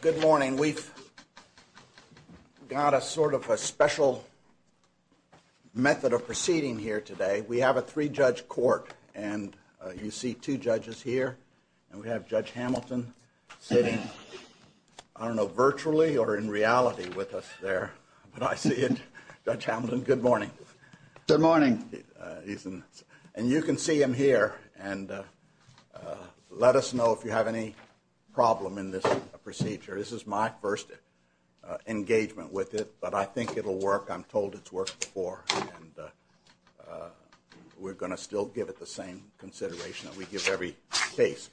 Good morning. We've got a sort of a special method of proceeding here today. We have a three-judge court, and you see two judges here. And we have Judge Hamilton sitting, I don't know, virtually or in reality with us there. But I see it. Judge Hamilton, good morning. Good morning. And you can see him here, and let us know if you have any problem in this procedure. This is my first engagement with it, but I think it'll work. I'm told it's worked before, and we're going to still give it the same consideration that we give every case.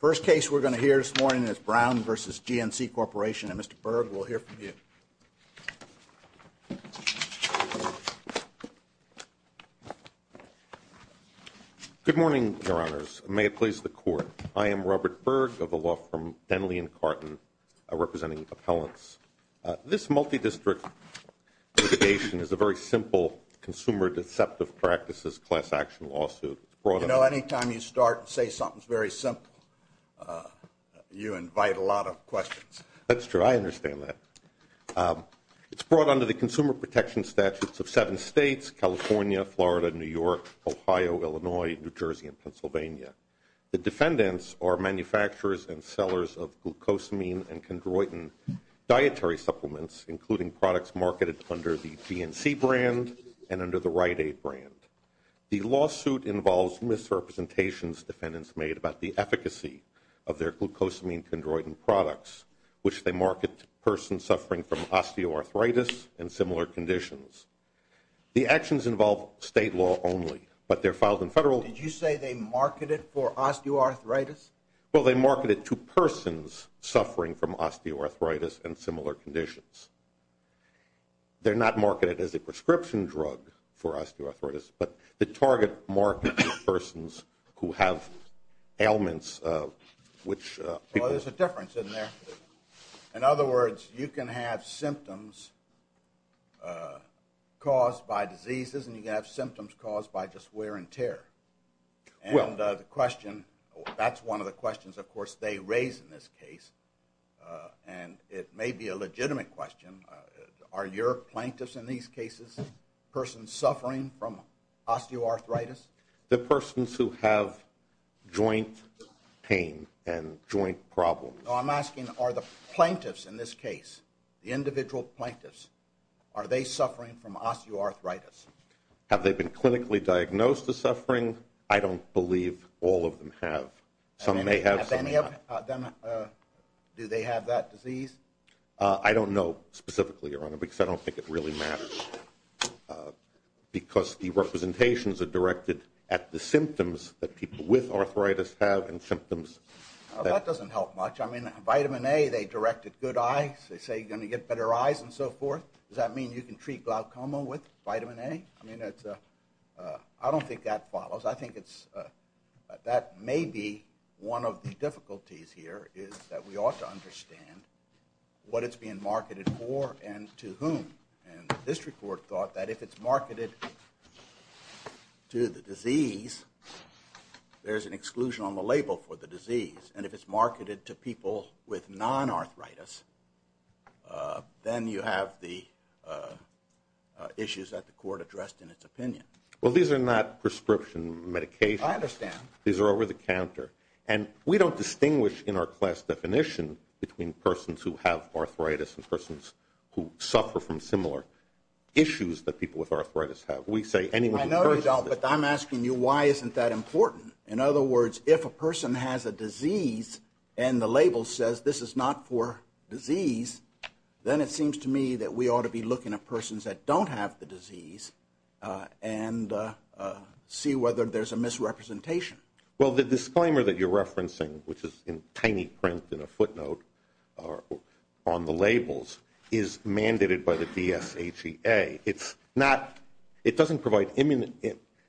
First case we're going to hear this morning is Brown v. GNC Corporation, and Mr. Berg, we'll hear from you. Good morning, Your Honors. May it please the Court. I am Robert Berg of the law firm Denley & Carton, representing appellants. This multi-district litigation is a very simple consumer deceptive practices class action lawsuit. You know, any time you start and say something's very simple, you invite a lot of questions. That's true. I understand that. It's brought under the consumer protection statutes of seven states, California, Florida, New York, Ohio, Illinois, New Jersey, and Pennsylvania. The defendants are manufacturers and sellers of glucosamine and chondroitin dietary supplements, including products marketed under the GNC brand and under the Rite Aid brand. The lawsuit involves misrepresentations defendants made about the efficacy of their glucosamine chondroitin products, which they market to persons suffering from osteoarthritis and similar conditions. The actions involve state law only, but they're filed in federal. Did you say they marketed for osteoarthritis? Well, they marketed to persons suffering from osteoarthritis and similar conditions. They're not marketed as a prescription drug for osteoarthritis, but the target market is persons who have ailments, which people… In other words, you can have symptoms caused by diseases, and you can have symptoms caused by just wear and tear. And the question, that's one of the questions, of course, they raise in this case, and it may be a legitimate question. Are your plaintiffs in these cases persons suffering from osteoarthritis? The persons who have joint pain and joint problems. No, I'm asking are the plaintiffs in this case, the individual plaintiffs, are they suffering from osteoarthritis? Have they been clinically diagnosed as suffering? I don't believe all of them have. Do they have that disease? I don't know specifically, Your Honor, because I don't think it really matters, because the representations are directed at the symptoms that people with arthritis have and symptoms that… I mean, vitamin A, they directed good eyes. They say you're going to get better eyes and so forth. Does that mean you can treat glaucoma with vitamin A? I mean, I don't think that follows. I think that may be one of the difficulties here is that we ought to understand what it's being marketed for and to whom. And the district court thought that if it's marketed to the disease, there's an exclusion on the label for the disease. And if it's marketed to people with non-arthritis, then you have the issues that the court addressed in its opinion. Well, these are not prescription medications. I understand. These are over-the-counter. And we don't distinguish in our class definition between persons who have arthritis and persons who suffer from similar issues that people with arthritis have. We say anyone who… I know you don't, but I'm asking you why isn't that important? In other words, if a person has a disease and the label says this is not for disease, then it seems to me that we ought to be looking at persons that don't have the disease and see whether there's a misrepresentation. Well, the disclaimer that you're referencing, which is in tiny print in a footnote on the labels, is mandated by the DSAGA. It doesn't provide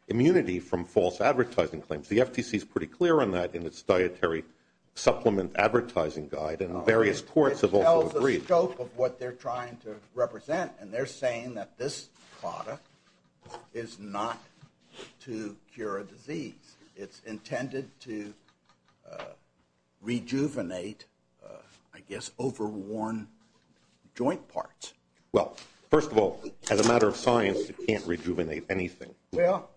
immunity from false advertising claims. The FTC is pretty clear on that in its dietary supplement advertising guide, and various courts have also agreed. It tells the scope of what they're trying to represent, and they're saying that this product is not to cure a disease. It's intended to rejuvenate, I guess, overworn joint parts. Well, first of all, as a matter of science, it can't rejuvenate anything. Well,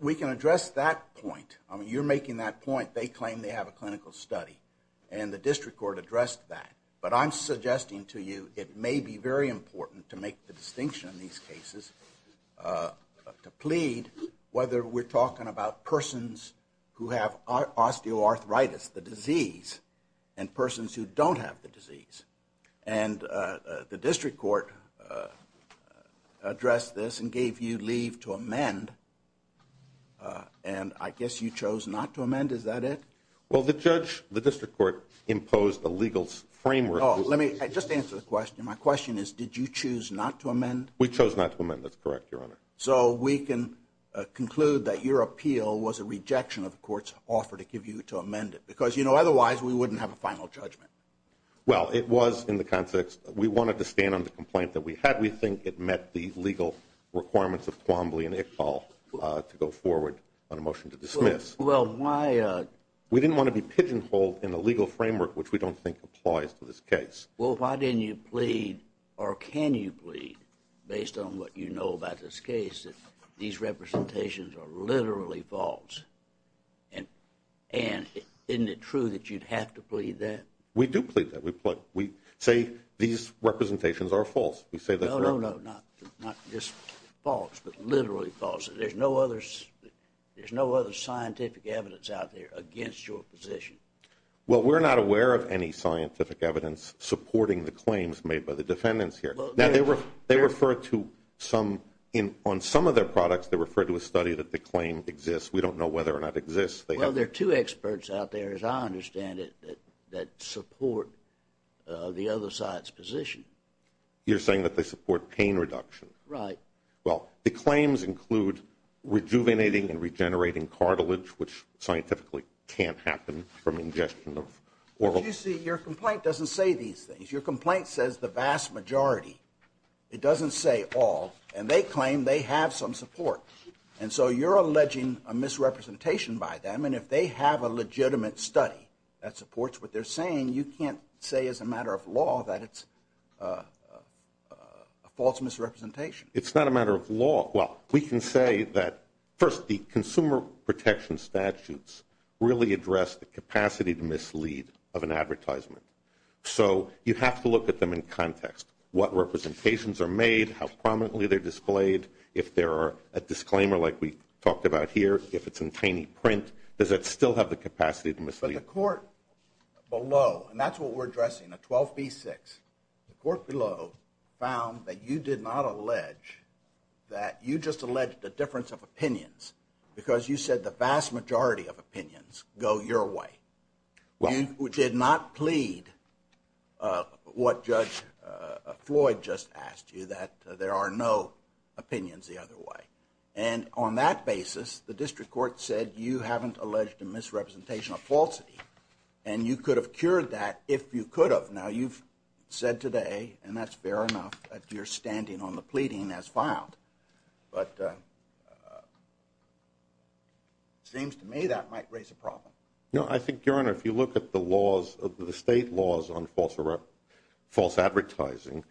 we can address that point. I mean, you're making that point. They claim they have a clinical study, and the district court addressed that. But I'm suggesting to you it may be very important to make the distinction in these cases, to plead, whether we're talking about persons who have osteoarthritis, the disease, and persons who don't have the disease. And the district court addressed this and gave you leave to amend, and I guess you chose not to amend. Is that it? Well, the judge, the district court, imposed a legal framework. Oh, let me just answer the question. My question is, did you choose not to amend? We chose not to amend. That's correct, Your Honor. So we can conclude that your appeal was a rejection of the court's offer to give you to amend it, because, you know, otherwise we wouldn't have a final judgment. Well, it was in the context that we wanted to stand on the complaint that we had. We think it met the legal requirements of Twombly and Iqbal to go forward on a motion to dismiss. Well, why? We didn't want to be pigeonholed in the legal framework, which we don't think applies to this case. Well, why didn't you plead, or can you plead, based on what you know about this case, that these representations are literally false? And isn't it true that you'd have to plead that? We do plead that. We say these representations are false. No, no, no, not just false, but literally false. There's no other scientific evidence out there against your position. Well, we're not aware of any scientific evidence supporting the claims made by the defendants here. Now, they refer to some, on some of their products, they refer to a study that the claim exists. We don't know whether or not it exists. Well, there are two experts out there, as I understand it, that support the other side's position. You're saying that they support pain reduction? Right. Well, the claims include rejuvenating and regenerating cartilage, which scientifically can't happen from ingestion of oral. But you see, your complaint doesn't say these things. Your complaint says the vast majority. It doesn't say all, and they claim they have some support. And so you're alleging a misrepresentation by them, and if they have a legitimate study that supports what they're saying, you can't say as a matter of law that it's a false misrepresentation. It's not a matter of law. Well, we can say that, first, the consumer protection statutes really address the capacity to mislead of an advertisement. So you have to look at them in context, what representations are made, how prominently they're displayed, if there are a disclaimer like we talked about here, if it's in tiny print, does that still have the capacity to mislead? But the court below, and that's what we're addressing, the 12b-6, the court below found that you did not allege that you just alleged a difference of opinions because you said the vast majority of opinions go your way. You did not plead what Judge Floyd just asked you, that there are no opinions the other way. And on that basis, the district court said you haven't alleged a misrepresentation of falsity, and you could have cured that if you could have. Now, you've said today, and that's fair enough, that you're standing on the pleading as filed. But it seems to me that might raise a problem. No, I think, Your Honor, if you look at the laws, the state laws on false advertising,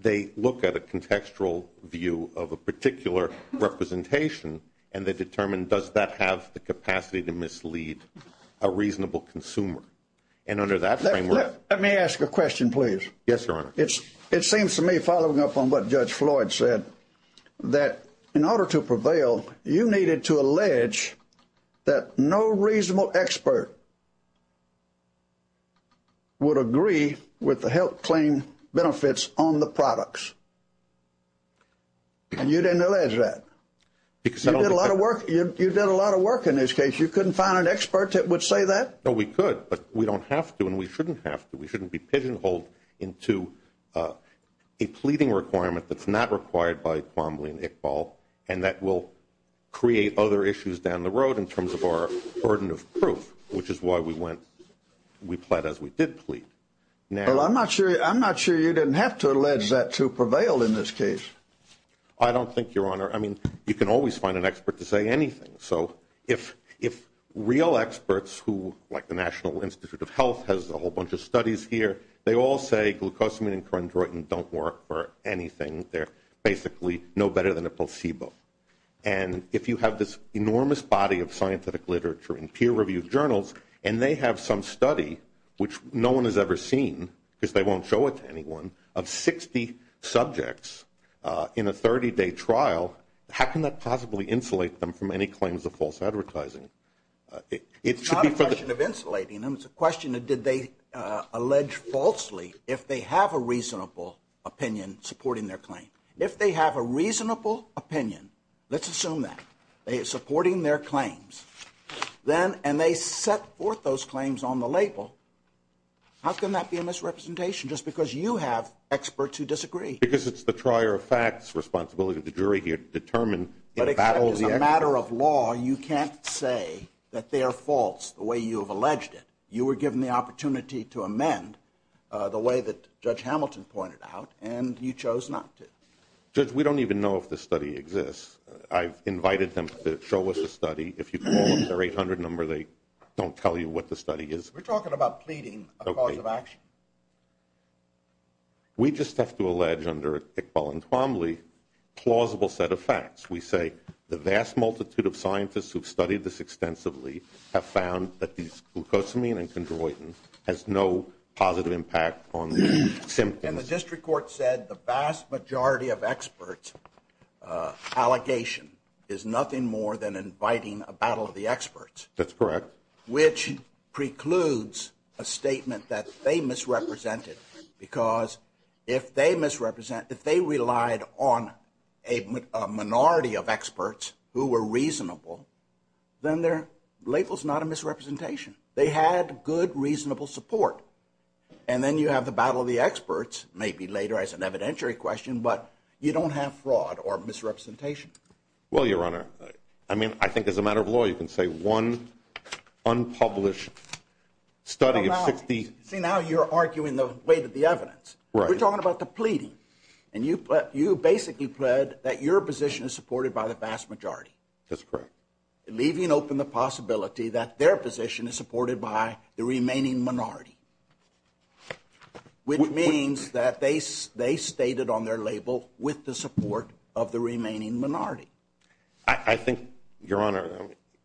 they look at a contextual view of a particular representation, and they determine does that have the capacity to mislead a reasonable consumer. And under that framework. Let me ask a question, please. Yes, Your Honor. It seems to me, following up on what Judge Floyd said, that in order to prevail, you needed to allege that no reasonable expert would agree with the health claim benefits on the products. And you didn't allege that. You did a lot of work in this case. You couldn't find an expert that would say that? No, we could, but we don't have to, and we shouldn't have to. We shouldn't be pigeonholed into a pleading requirement that's not required by Quambly and Iqbal, and that will create other issues down the road in terms of our burden of proof, which is why we went, we pled as we did plead. Well, I'm not sure you didn't have to allege that to prevail in this case. I don't think, Your Honor. I mean, you can always find an expert to say anything. So if real experts who, like the National Institute of Health, has a whole bunch of studies here, they all say glucosamine and chondroitin don't work for anything. They're basically no better than a placebo. And if you have this enormous body of scientific literature and peer-reviewed journals and they have some study, which no one has ever seen because they won't show it to anyone, of 60 subjects in a 30-day trial, how can that possibly insulate them from any claims of false advertising? It's not a question of insulating them. It's a question of did they allege falsely if they have a reasonable opinion supporting their claim. If they have a reasonable opinion, let's assume that, supporting their claims, and they set forth those claims on the label, how can that be a misrepresentation, just because you have experts who disagree? Because it's the trier of facts responsibility of the jury here to determine. But it's a matter of law. You can't say that they are false the way you have alleged it. You were given the opportunity to amend the way that Judge Hamilton pointed out, and you chose not to. Judge, we don't even know if this study exists. I've invited them to show us the study. If you call them, their 800 number, they don't tell you what the study is. We're talking about pleading a cause of action. We just have to allege under Iqbal and Twombly a plausible set of facts. We say the vast multitude of scientists who have studied this extensively have found that these glucosamine and chondroitin has no positive impact on symptoms. And the district court said the vast majority of experts' allegation is nothing more than inviting a battle of the experts. That's correct. Which precludes a statement that they misrepresented because if they misrepresent, if they relied on a minority of experts who were reasonable, then their label is not a misrepresentation. They had good, reasonable support. And then you have the battle of the experts, maybe later as an evidentiary question, but you don't have fraud or misrepresentation. Well, Your Honor, I mean, I think as a matter of law, you can say one unpublished study of 60. See, now you're arguing the weight of the evidence. We're talking about the pleading. And you basically pled that your position is supported by the vast majority. That's correct. Leaving open the possibility that their position is supported by the remaining minority, which means that they stated on their label with the support of the remaining minority. I think, Your Honor,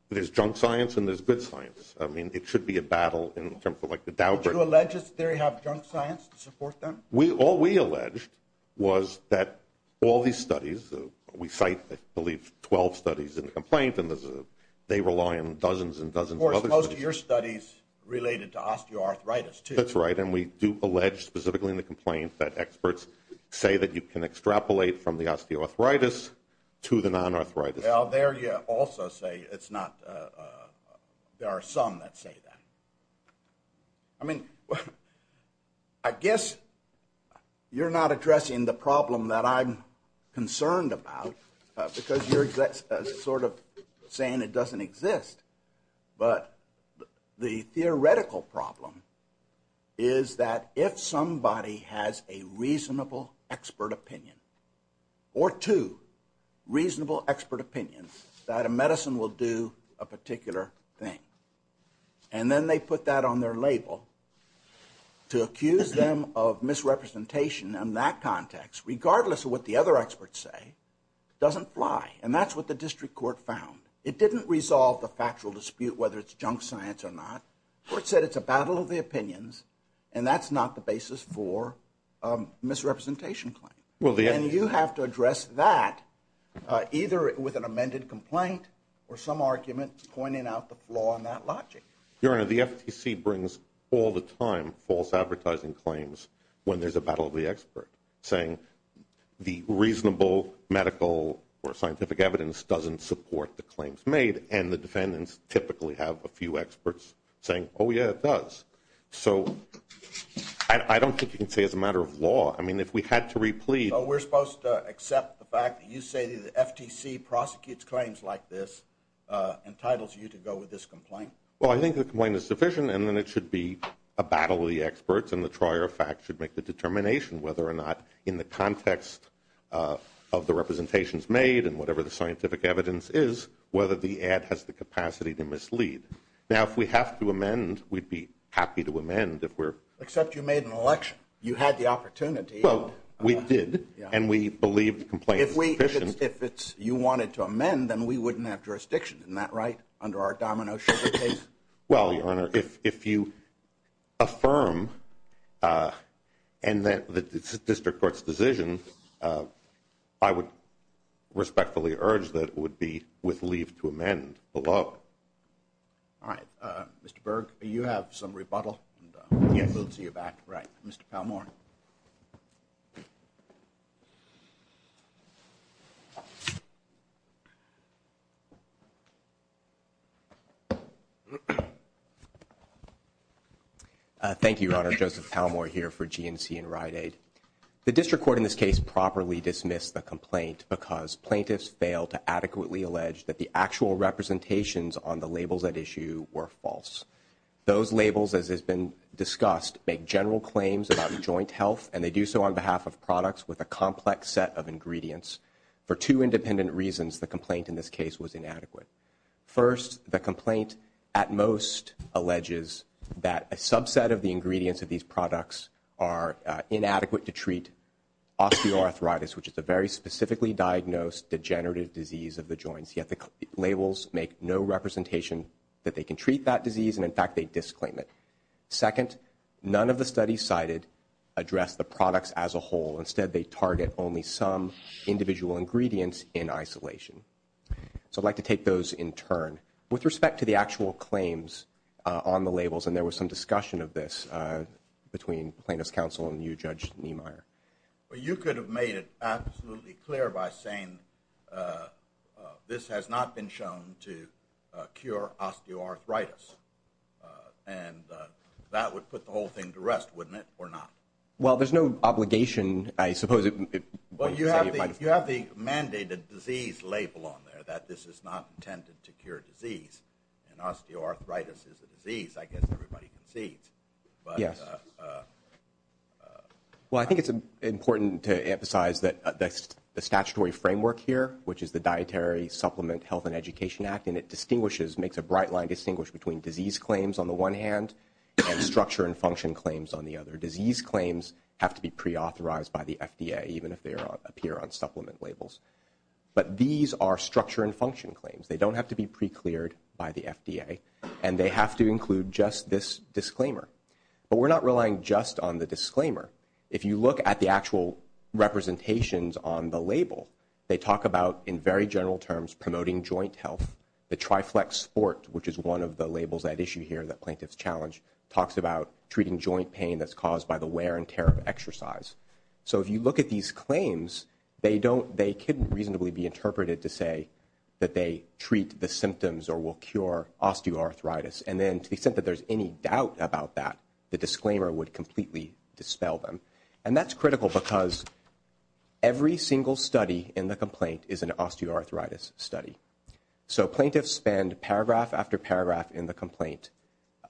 there's junk science and there's good science. I mean, it should be a battle in terms of like the Dow group. Did you allege that they have junk science to support them? All we alleged was that all these studies, we cite, I believe, 12 studies in the complaint, and they rely on dozens and dozens of other studies. There are studies related to osteoarthritis, too. That's right, and we do allege, specifically in the complaint, that experts say that you can extrapolate from the osteoarthritis to the non-arthritis. Well, there you also say it's not. There are some that say that. I mean, I guess you're not addressing the problem that I'm concerned about because you're sort of saying it doesn't exist. But the theoretical problem is that if somebody has a reasonable expert opinion or two reasonable expert opinions that a medicine will do a particular thing, and then they put that on their label to accuse them of misrepresentation in that context, regardless of what the other experts say, it doesn't fly. And that's what the district court found. It didn't resolve the factual dispute whether it's junk science or not. The court said it's a battle of the opinions, and that's not the basis for a misrepresentation claim. And you have to address that either with an amended complaint or some argument pointing out the flaw in that logic. Your Honor, the FTC brings all the time false advertising claims when there's a battle of the expert, saying the reasonable medical or scientific evidence doesn't support the claims made, and the defendants typically have a few experts saying, oh, yeah, it does. So I don't think you can say it's a matter of law. I mean, if we had to replead. So we're supposed to accept the fact that you say the FTC prosecutes claims like this, entitles you to go with this complaint? Well, I think the complaint is sufficient, and then it should be a battle of the experts, and the trier of fact should make the determination whether or not, in the context of the representations made and whatever the scientific evidence is, whether the ad has the capacity to mislead. Now, if we have to amend, we'd be happy to amend. Except you made an election. You had the opportunity. Well, we did, and we believed the complaint was sufficient. If you wanted to amend, then we wouldn't have jurisdiction. Isn't that right, under our domino sugar case? Well, Your Honor, if you affirm and that it's a district court's decision, I would respectfully urge that it would be with leave to amend the law. All right. Mr. Berg, you have some rebuttal, and we'll see you back. Right. Mr. Palmore. Thank you, Your Honor. Joseph Palmore here for GNC and Rite Aid. The district court in this case properly dismissed the complaint because plaintiffs failed to adequately allege that the actual representations on the labels at issue were false. Those labels, as has been discussed, make general claims about joint health, and they do so on behalf of products with a complex set of ingredients. For two independent reasons, the complaint in this case was inadequate. First, the complaint at most alleges that a subset of the ingredients of these products are inadequate to treat osteoarthritis, which is a very specifically diagnosed degenerative disease of the joints, yet the labels make no representation that they can treat that disease, and, in fact, they disclaim it. Second, none of the studies cited address the products as a whole. Instead, they target only some individual ingredients in isolation. So I'd like to take those in turn. With respect to the actual claims on the labels, and there was some discussion of this between plaintiffs' counsel and you, Judge Niemeyer. Well, you could have made it absolutely clear by saying this has not been shown to cure osteoarthritis, and that would put the whole thing to rest, wouldn't it, or not? Well, there's no obligation, I suppose. Well, you have the mandated disease label on there that this is not intended to cure disease, and osteoarthritis is a disease. I guess everybody concedes. Yes. Well, I think it's important to emphasize the statutory framework here, which is the Dietary Supplement Health and Education Act, and it distinguishes, makes a bright line distinguish between disease claims on the one hand and structure and function claims on the other. Disease claims have to be preauthorized by the FDA, even if they appear on supplement labels. But these are structure and function claims. They don't have to be precleared by the FDA, and they have to include just this disclaimer. But we're not relying just on the disclaimer. If you look at the actual representations on the label, they talk about, in very general terms, promoting joint health. The Triflex Sport, which is one of the labels at issue here that plaintiffs challenge, talks about treating joint pain that's caused by the wear and tear of exercise. So if you look at these claims, they couldn't reasonably be interpreted to say that they treat the symptoms or will cure osteoarthritis. And then to the extent that there's any doubt about that, the disclaimer would completely dispel them. And that's critical because every single study in the complaint is an osteoarthritis study. So plaintiffs spend paragraph after paragraph in the complaint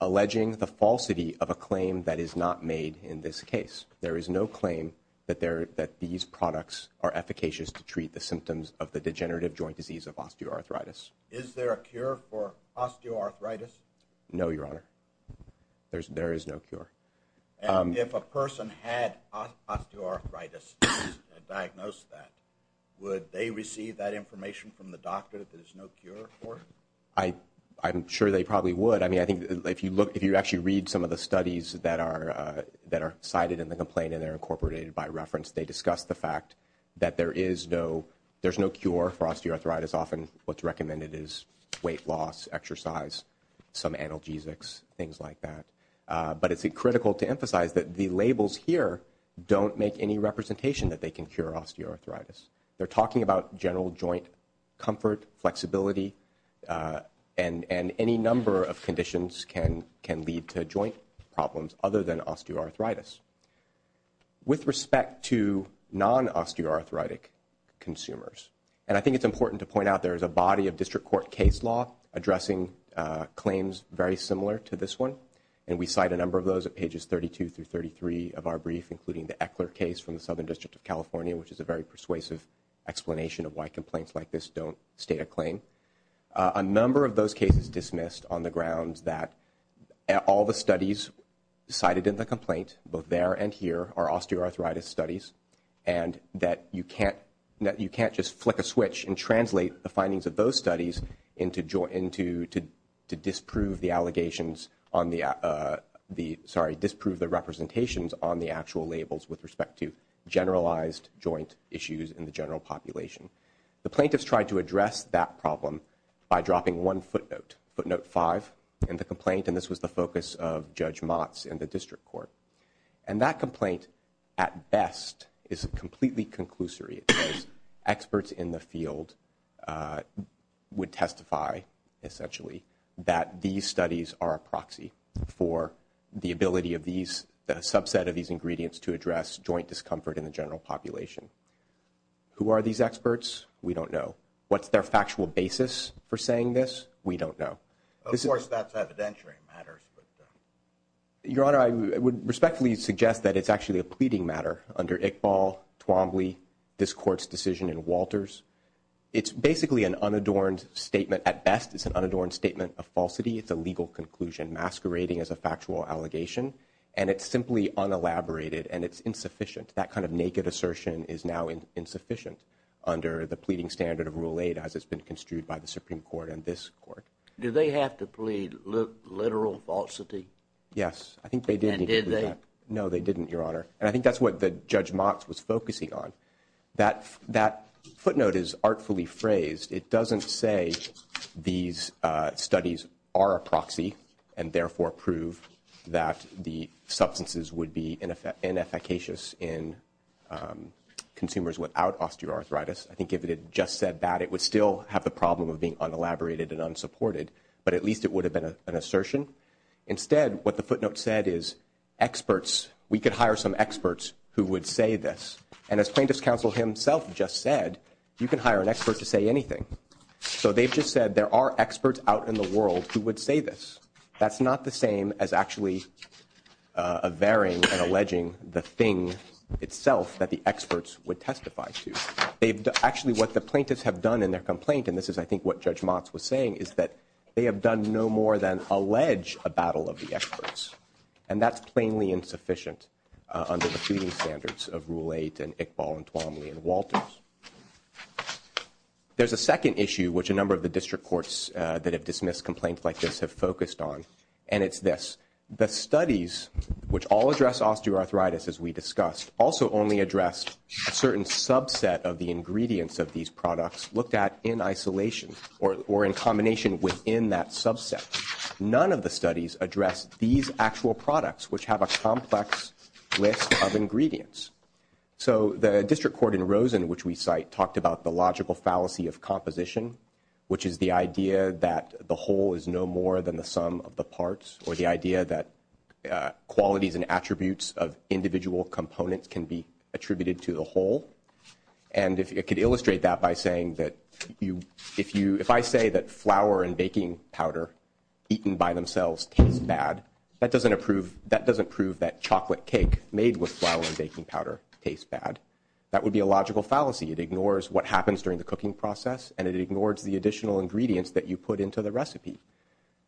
alleging the falsity of a claim that is not made in this case. There is no claim that these products are efficacious to treat the symptoms of the degenerative joint disease of osteoarthritis. Is there a cure for osteoarthritis? No, Your Honor. There is no cure. And if a person had osteoarthritis and diagnosed that, would they receive that information from the doctor that there's no cure for it? I'm sure they probably would. I mean, I think if you actually read some of the studies that are cited in the complaint and they're incorporated by reference, they discuss the fact that there's no cure for osteoarthritis. Often what's recommended is weight loss, exercise, some analgesics, things like that. But it's critical to emphasize that the labels here don't make any representation that they can cure osteoarthritis. They're talking about general joint comfort, flexibility, and any number of conditions can lead to joint problems other than osteoarthritis. With respect to non-osteoarthritic consumers, and I think it's important to point out there is a body of district court case law addressing claims very similar to this one, and we cite a number of those at pages 32 through 33 of our brief, including the Eckler case from the Southern District of California, which is a very persuasive explanation of why complaints like this don't state a claim. A number of those cases dismissed on the grounds that all the studies cited in the complaint, both there and here, are osteoarthritis studies, and that you can't just flick a switch and translate the findings of those studies to disprove the representations on the actual labels with respect to generalized joint issues in the general population. The plaintiffs tried to address that problem by dropping one footnote, footnote five, in the complaint, and this was the focus of Judge Motz in the district court. And that complaint, at best, is completely conclusory. Experts in the field would testify, essentially, that these studies are a proxy for the ability of the subset of these ingredients to address joint discomfort in the general population. Who are these experts? We don't know. What's their factual basis for saying this? We don't know. Of course, that's evidentiary matters. Your Honor, I would respectfully suggest that it's actually a pleading matter under Iqbal, Twombly, this Court's decision in Walters. It's basically an unadorned statement. At best, it's an unadorned statement of falsity. It's a legal conclusion masquerading as a factual allegation, and it's simply unelaborated, and it's insufficient. That kind of naked assertion is now insufficient under the pleading standard of Rule 8 as it's been construed by the Supreme Court and this Court. Do they have to plead literal falsity? Yes, I think they did. And did they? No, they didn't, Your Honor. And I think that's what Judge Motz was focusing on. That footnote is artfully phrased. It doesn't say these studies are a proxy and therefore prove that the substances would be inefficacious in consumers without osteoarthritis. I think if it had just said that, it would still have the problem of being unelaborated and unsupported. But at least it would have been an assertion. Instead, what the footnote said is experts. We could hire some experts who would say this. And as plaintiff's counsel himself just said, you can hire an expert to say anything. So they've just said there are experts out in the world who would say this. That's not the same as actually averring and alleging the thing itself that the experts would testify to. Actually, what the plaintiffs have done in their complaint, and this is, I think, what Judge Motz was saying, is that they have done no more than allege a battle of the experts. And that's plainly insufficient under the feeding standards of Rule 8 and Iqbal and Twomley and Walters. There's a second issue, which a number of the district courts that have dismissed complaints like this have focused on, and it's this. The studies, which all address osteoarthritis, as we discussed, also only address a certain subset of the ingredients of these products looked at in isolation or in combination within that subset. None of the studies address these actual products, which have a complex list of ingredients. So the district court in Rosen, which we cite, talked about the logical fallacy of composition, which is the idea that the whole is no more than the sum of the parts, or the idea that qualities and attributes of individual components can be attributed to the whole. And it could illustrate that by saying that if I say that flour and baking powder eaten by themselves tastes bad, that doesn't prove that chocolate cake made with flour and baking powder tastes bad. That would be a logical fallacy. It ignores what happens during the cooking process, and it ignores the additional ingredients that you put into the recipe.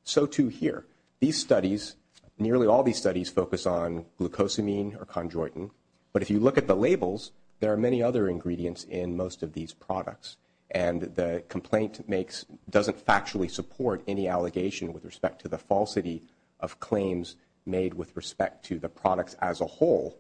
So, too, here. These studies, nearly all these studies, focus on glucosamine or chondroitin. But if you look at the labels, there are many other ingredients in most of these products. And the complaint doesn't factually support any allegation with respect to the falsity of claims made with respect to the products as a whole,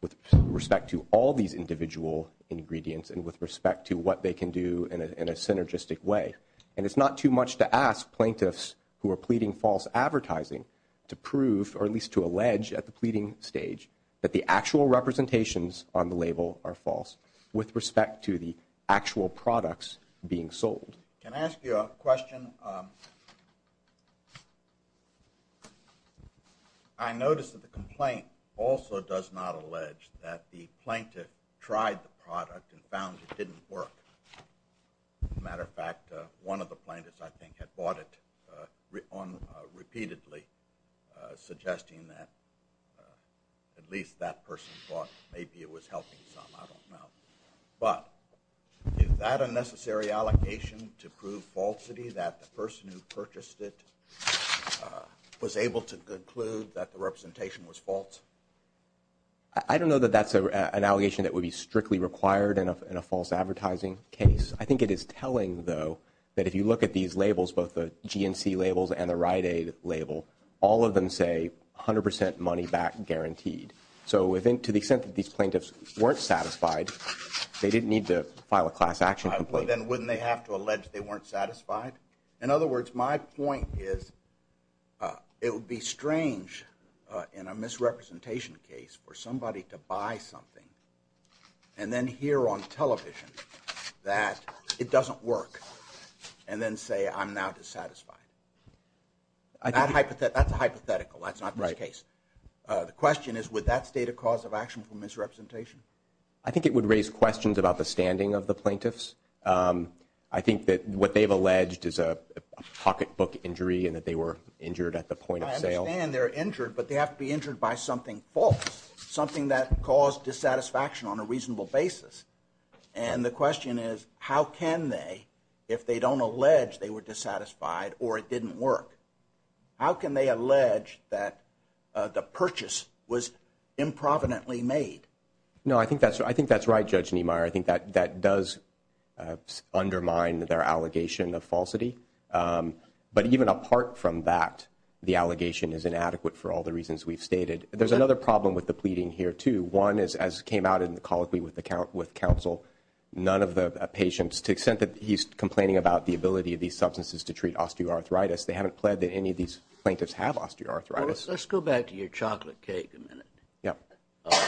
with respect to all these individual ingredients, and with respect to what they can do in a synergistic way. And it's not too much to ask plaintiffs who are pleading false advertising to prove, or at least to allege at the pleading stage, that the actual representations on the label are false, with respect to the actual products being sold. Can I ask you a question? I noticed that the complaint also does not allege that the plaintiff tried the product and found it didn't work. As a matter of fact, one of the plaintiffs, I think, had bought it repeatedly, suggesting that at least that person thought maybe it was helping some, I don't know. But is that a necessary allegation to prove falsity, that the person who purchased it was able to conclude that the representation was false? I don't know that that's an allegation that would be strictly required in a false advertising case. I think it is telling, though, that if you look at these labels, both the GNC labels and the Rite Aid label, all of them say 100 percent money back guaranteed. So to the extent that these plaintiffs weren't satisfied, they didn't need to file a class action complaint. Then wouldn't they have to allege they weren't satisfied? In other words, my point is it would be strange in a misrepresentation case for somebody to buy something and then hear on television that it doesn't work and then say I'm now dissatisfied. That's a hypothetical. That's not the case. The question is, would that state a cause of action for misrepresentation? I think it would raise questions about the standing of the plaintiffs. I think that what they've alleged is a pocketbook injury and that they were injured at the point of sale. I understand they're injured, but they have to be injured by something false, something that caused dissatisfaction on a reasonable basis. And the question is, how can they, if they don't allege they were dissatisfied or it didn't work, how can they allege that the purchase was improvidently made? No, I think that's right, Judge Niemeyer. I think that does undermine their allegation of falsity. But even apart from that, the allegation is inadequate for all the reasons we've stated. There's another problem with the pleading here, too. One is, as came out in the colloquy with counsel, none of the patients, to the extent that he's complaining about the ability of these substances to treat osteoarthritis, they haven't pled that any of these plaintiffs have osteoarthritis. Let's go back to your chocolate cake a minute. Yeah.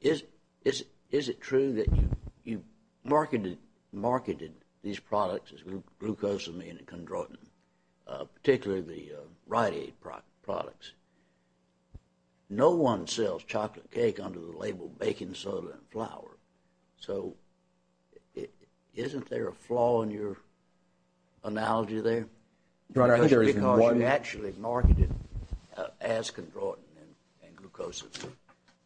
Is it true that you marketed these products as glucosamine and chondroitin, particularly the Rite Aid products? No one sells chocolate cake under the label baking soda and flour. So isn't there a flaw in your analogy there? Your Honor, I think there is one. Because you actually marketed as chondroitin and glucosamine.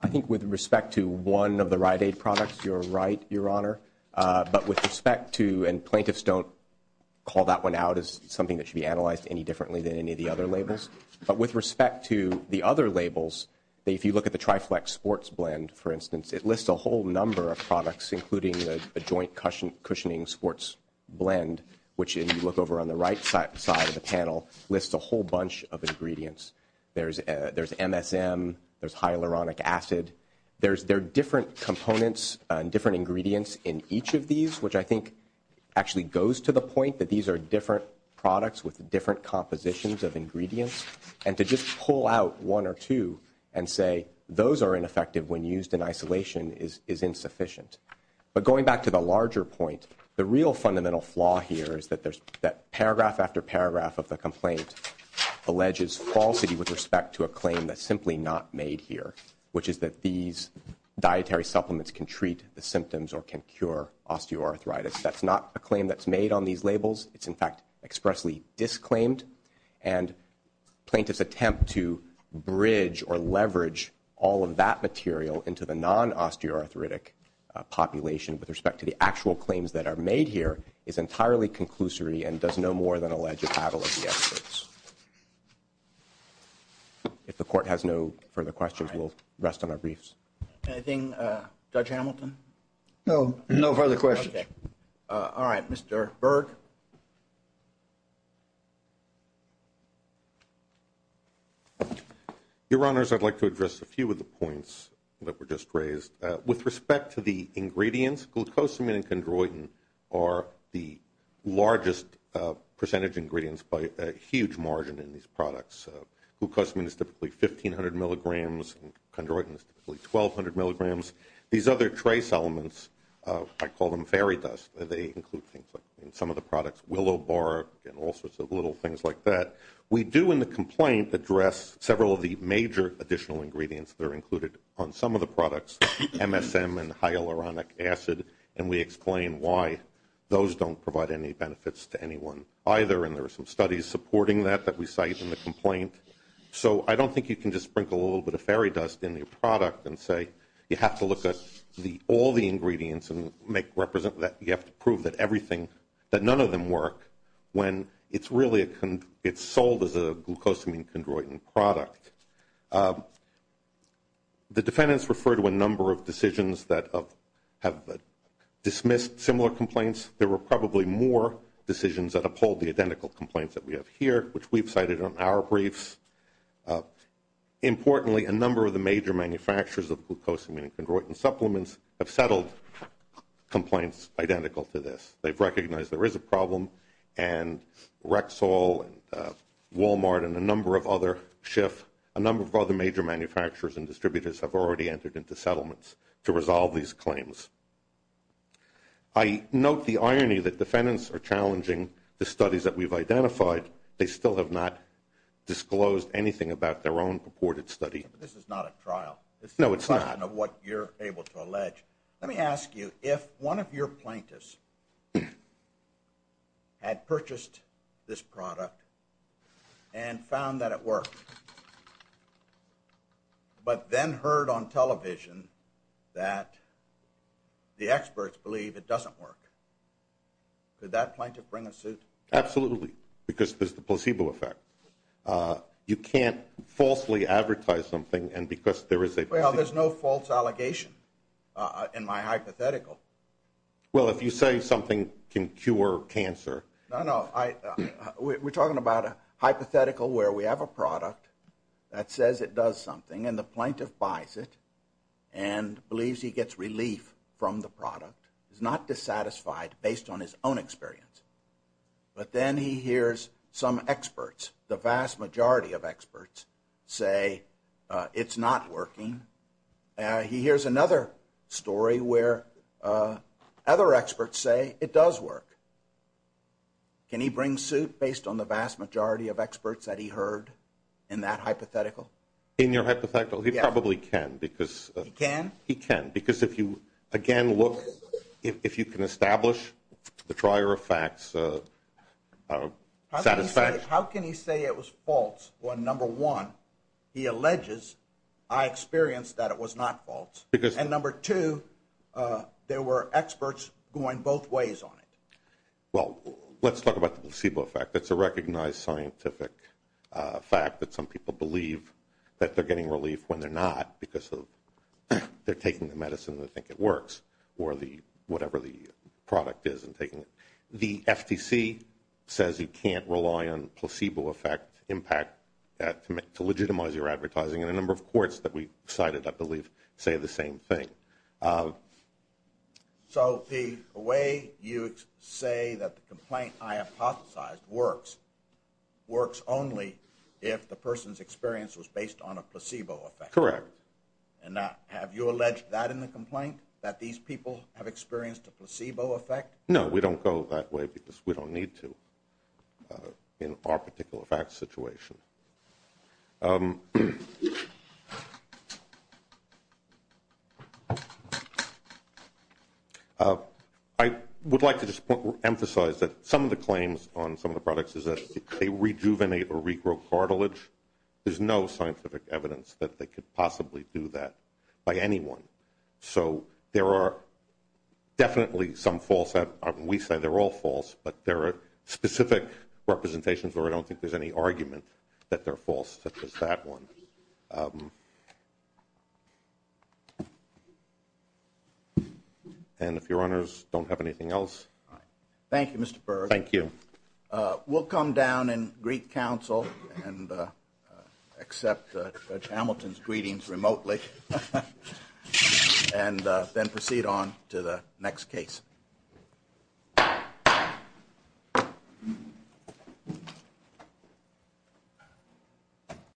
I think with respect to one of the Rite Aid products, you're right, Your Honor. But with respect to, and plaintiffs don't call that one out as something that should be analyzed any differently than any of the other labels. But with respect to the other labels, if you look at the Triflex sports blend, for instance, it lists a whole number of products, including a joint cushioning sports blend, which if you look over on the right side of the panel, lists a whole bunch of ingredients. There's MSM. There's hyaluronic acid. There are different components and different ingredients in each of these, which I think actually goes to the point that these are different products with different compositions of ingredients. And to just pull out one or two and say those are ineffective when used in isolation is insufficient. But going back to the larger point, the real fundamental flaw here is that paragraph after paragraph of the complaint alleges falsity with respect to a claim that's simply not made here, which is that these dietary supplements can treat the symptoms or can cure osteoarthritis. That's not a claim that's made on these labels. It's, in fact, expressly disclaimed. And plaintiff's attempt to bridge or leverage all of that material into the non-osteoarthritic population with respect to the actual claims that are made here is entirely conclusory and does no more than allege a battle of the ethics. If the court has no further questions, we'll rest on our briefs. Anything, Judge Hamilton? No, no further questions. All right, Mr. Berg? Your Honors, I'd like to address a few of the points that were just raised. With respect to the ingredients, glucosamine and chondroitin are the largest percentage ingredients by a huge margin in these products. Glucosamine is typically 1,500 milligrams and chondroitin is typically 1,200 milligrams. These other trace elements, I call them fairy dust. They include things like in some of the products willow bark and all sorts of little things like that. We do in the complaint address several of the major additional ingredients that are included on some of the products, MSM and hyaluronic acid, and we explain why those don't provide any benefits to anyone either, and there are some studies supporting that that we cite in the complaint. So I don't think you can just sprinkle a little bit of fairy dust in your product and say you have to look at all the ingredients and you have to prove that none of them work when it's sold as a glucosamine chondroitin product. The defendants refer to a number of decisions that have dismissed similar complaints. There were probably more decisions that uphold the identical complaints that we have here, which we've cited on our briefs. Importantly, a number of the major manufacturers of glucosamine chondroitin supplements have settled complaints identical to this. They've recognized there is a problem, and Rexall and Walmart and a number of other SHIF, a number of other major manufacturers and distributors have already entered into settlements to resolve these claims. I note the irony that defendants are challenging the studies that we've identified. They still have not disclosed anything about their own purported study. This is not a trial. No, it's not. It's a question of what you're able to allege. Let me ask you, if one of your plaintiffs had purchased this product and found that it worked but then heard on television that the experts believe it doesn't work, could that plaintiff bring a suit? Absolutely, because there's the placebo effect. You can't falsely advertise something and because there is a placebo effect. Well, there's no false allegation in my hypothetical. Well, if you say something can cure cancer. No, no. We're talking about a hypothetical where we have a product that says it does something and the plaintiff buys it and believes he gets relief from the product. He's not dissatisfied based on his own experience. But then he hears some experts, the vast majority of experts, say it's not working. He hears another story where other experts say it does work. Can he bring suit based on the vast majority of experts that he heard in that hypothetical? In your hypothetical, he probably can. He can? He can, because if you, again, look, if you can establish the trier of facts satisfaction. How can he say it was false when, number one, he alleges, I experienced that it was not false, and number two, there were experts going both ways on it? Well, let's talk about the placebo effect. It's a recognized scientific fact that some people believe that they're getting relief when they're not because they're taking the medicine and they think it works or whatever the product is. The FTC says you can't rely on placebo effect impact to legitimize your advertising, and a number of courts that we cited, I believe, say the same thing. So the way you say that the complaint I hypothesized works, only if the person's experience was based on a placebo effect. Correct. And have you alleged that in the complaint, that these people have experienced a placebo effect? No, we don't go that way because we don't need to in our particular fact situation. I would like to just emphasize that some of the claims on some of the products is that they rejuvenate or regrow cartilage. There's no scientific evidence that they could possibly do that by anyone. So there are definitely some false, we say they're all false, but there are specific representations where I don't think there's any argument that they're false. Just such as that one. And if your honors don't have anything else. Thank you, Mr. Berg. Thank you. We'll come down and greet counsel and accept Judge Hamilton's greetings remotely and then proceed on to the next case.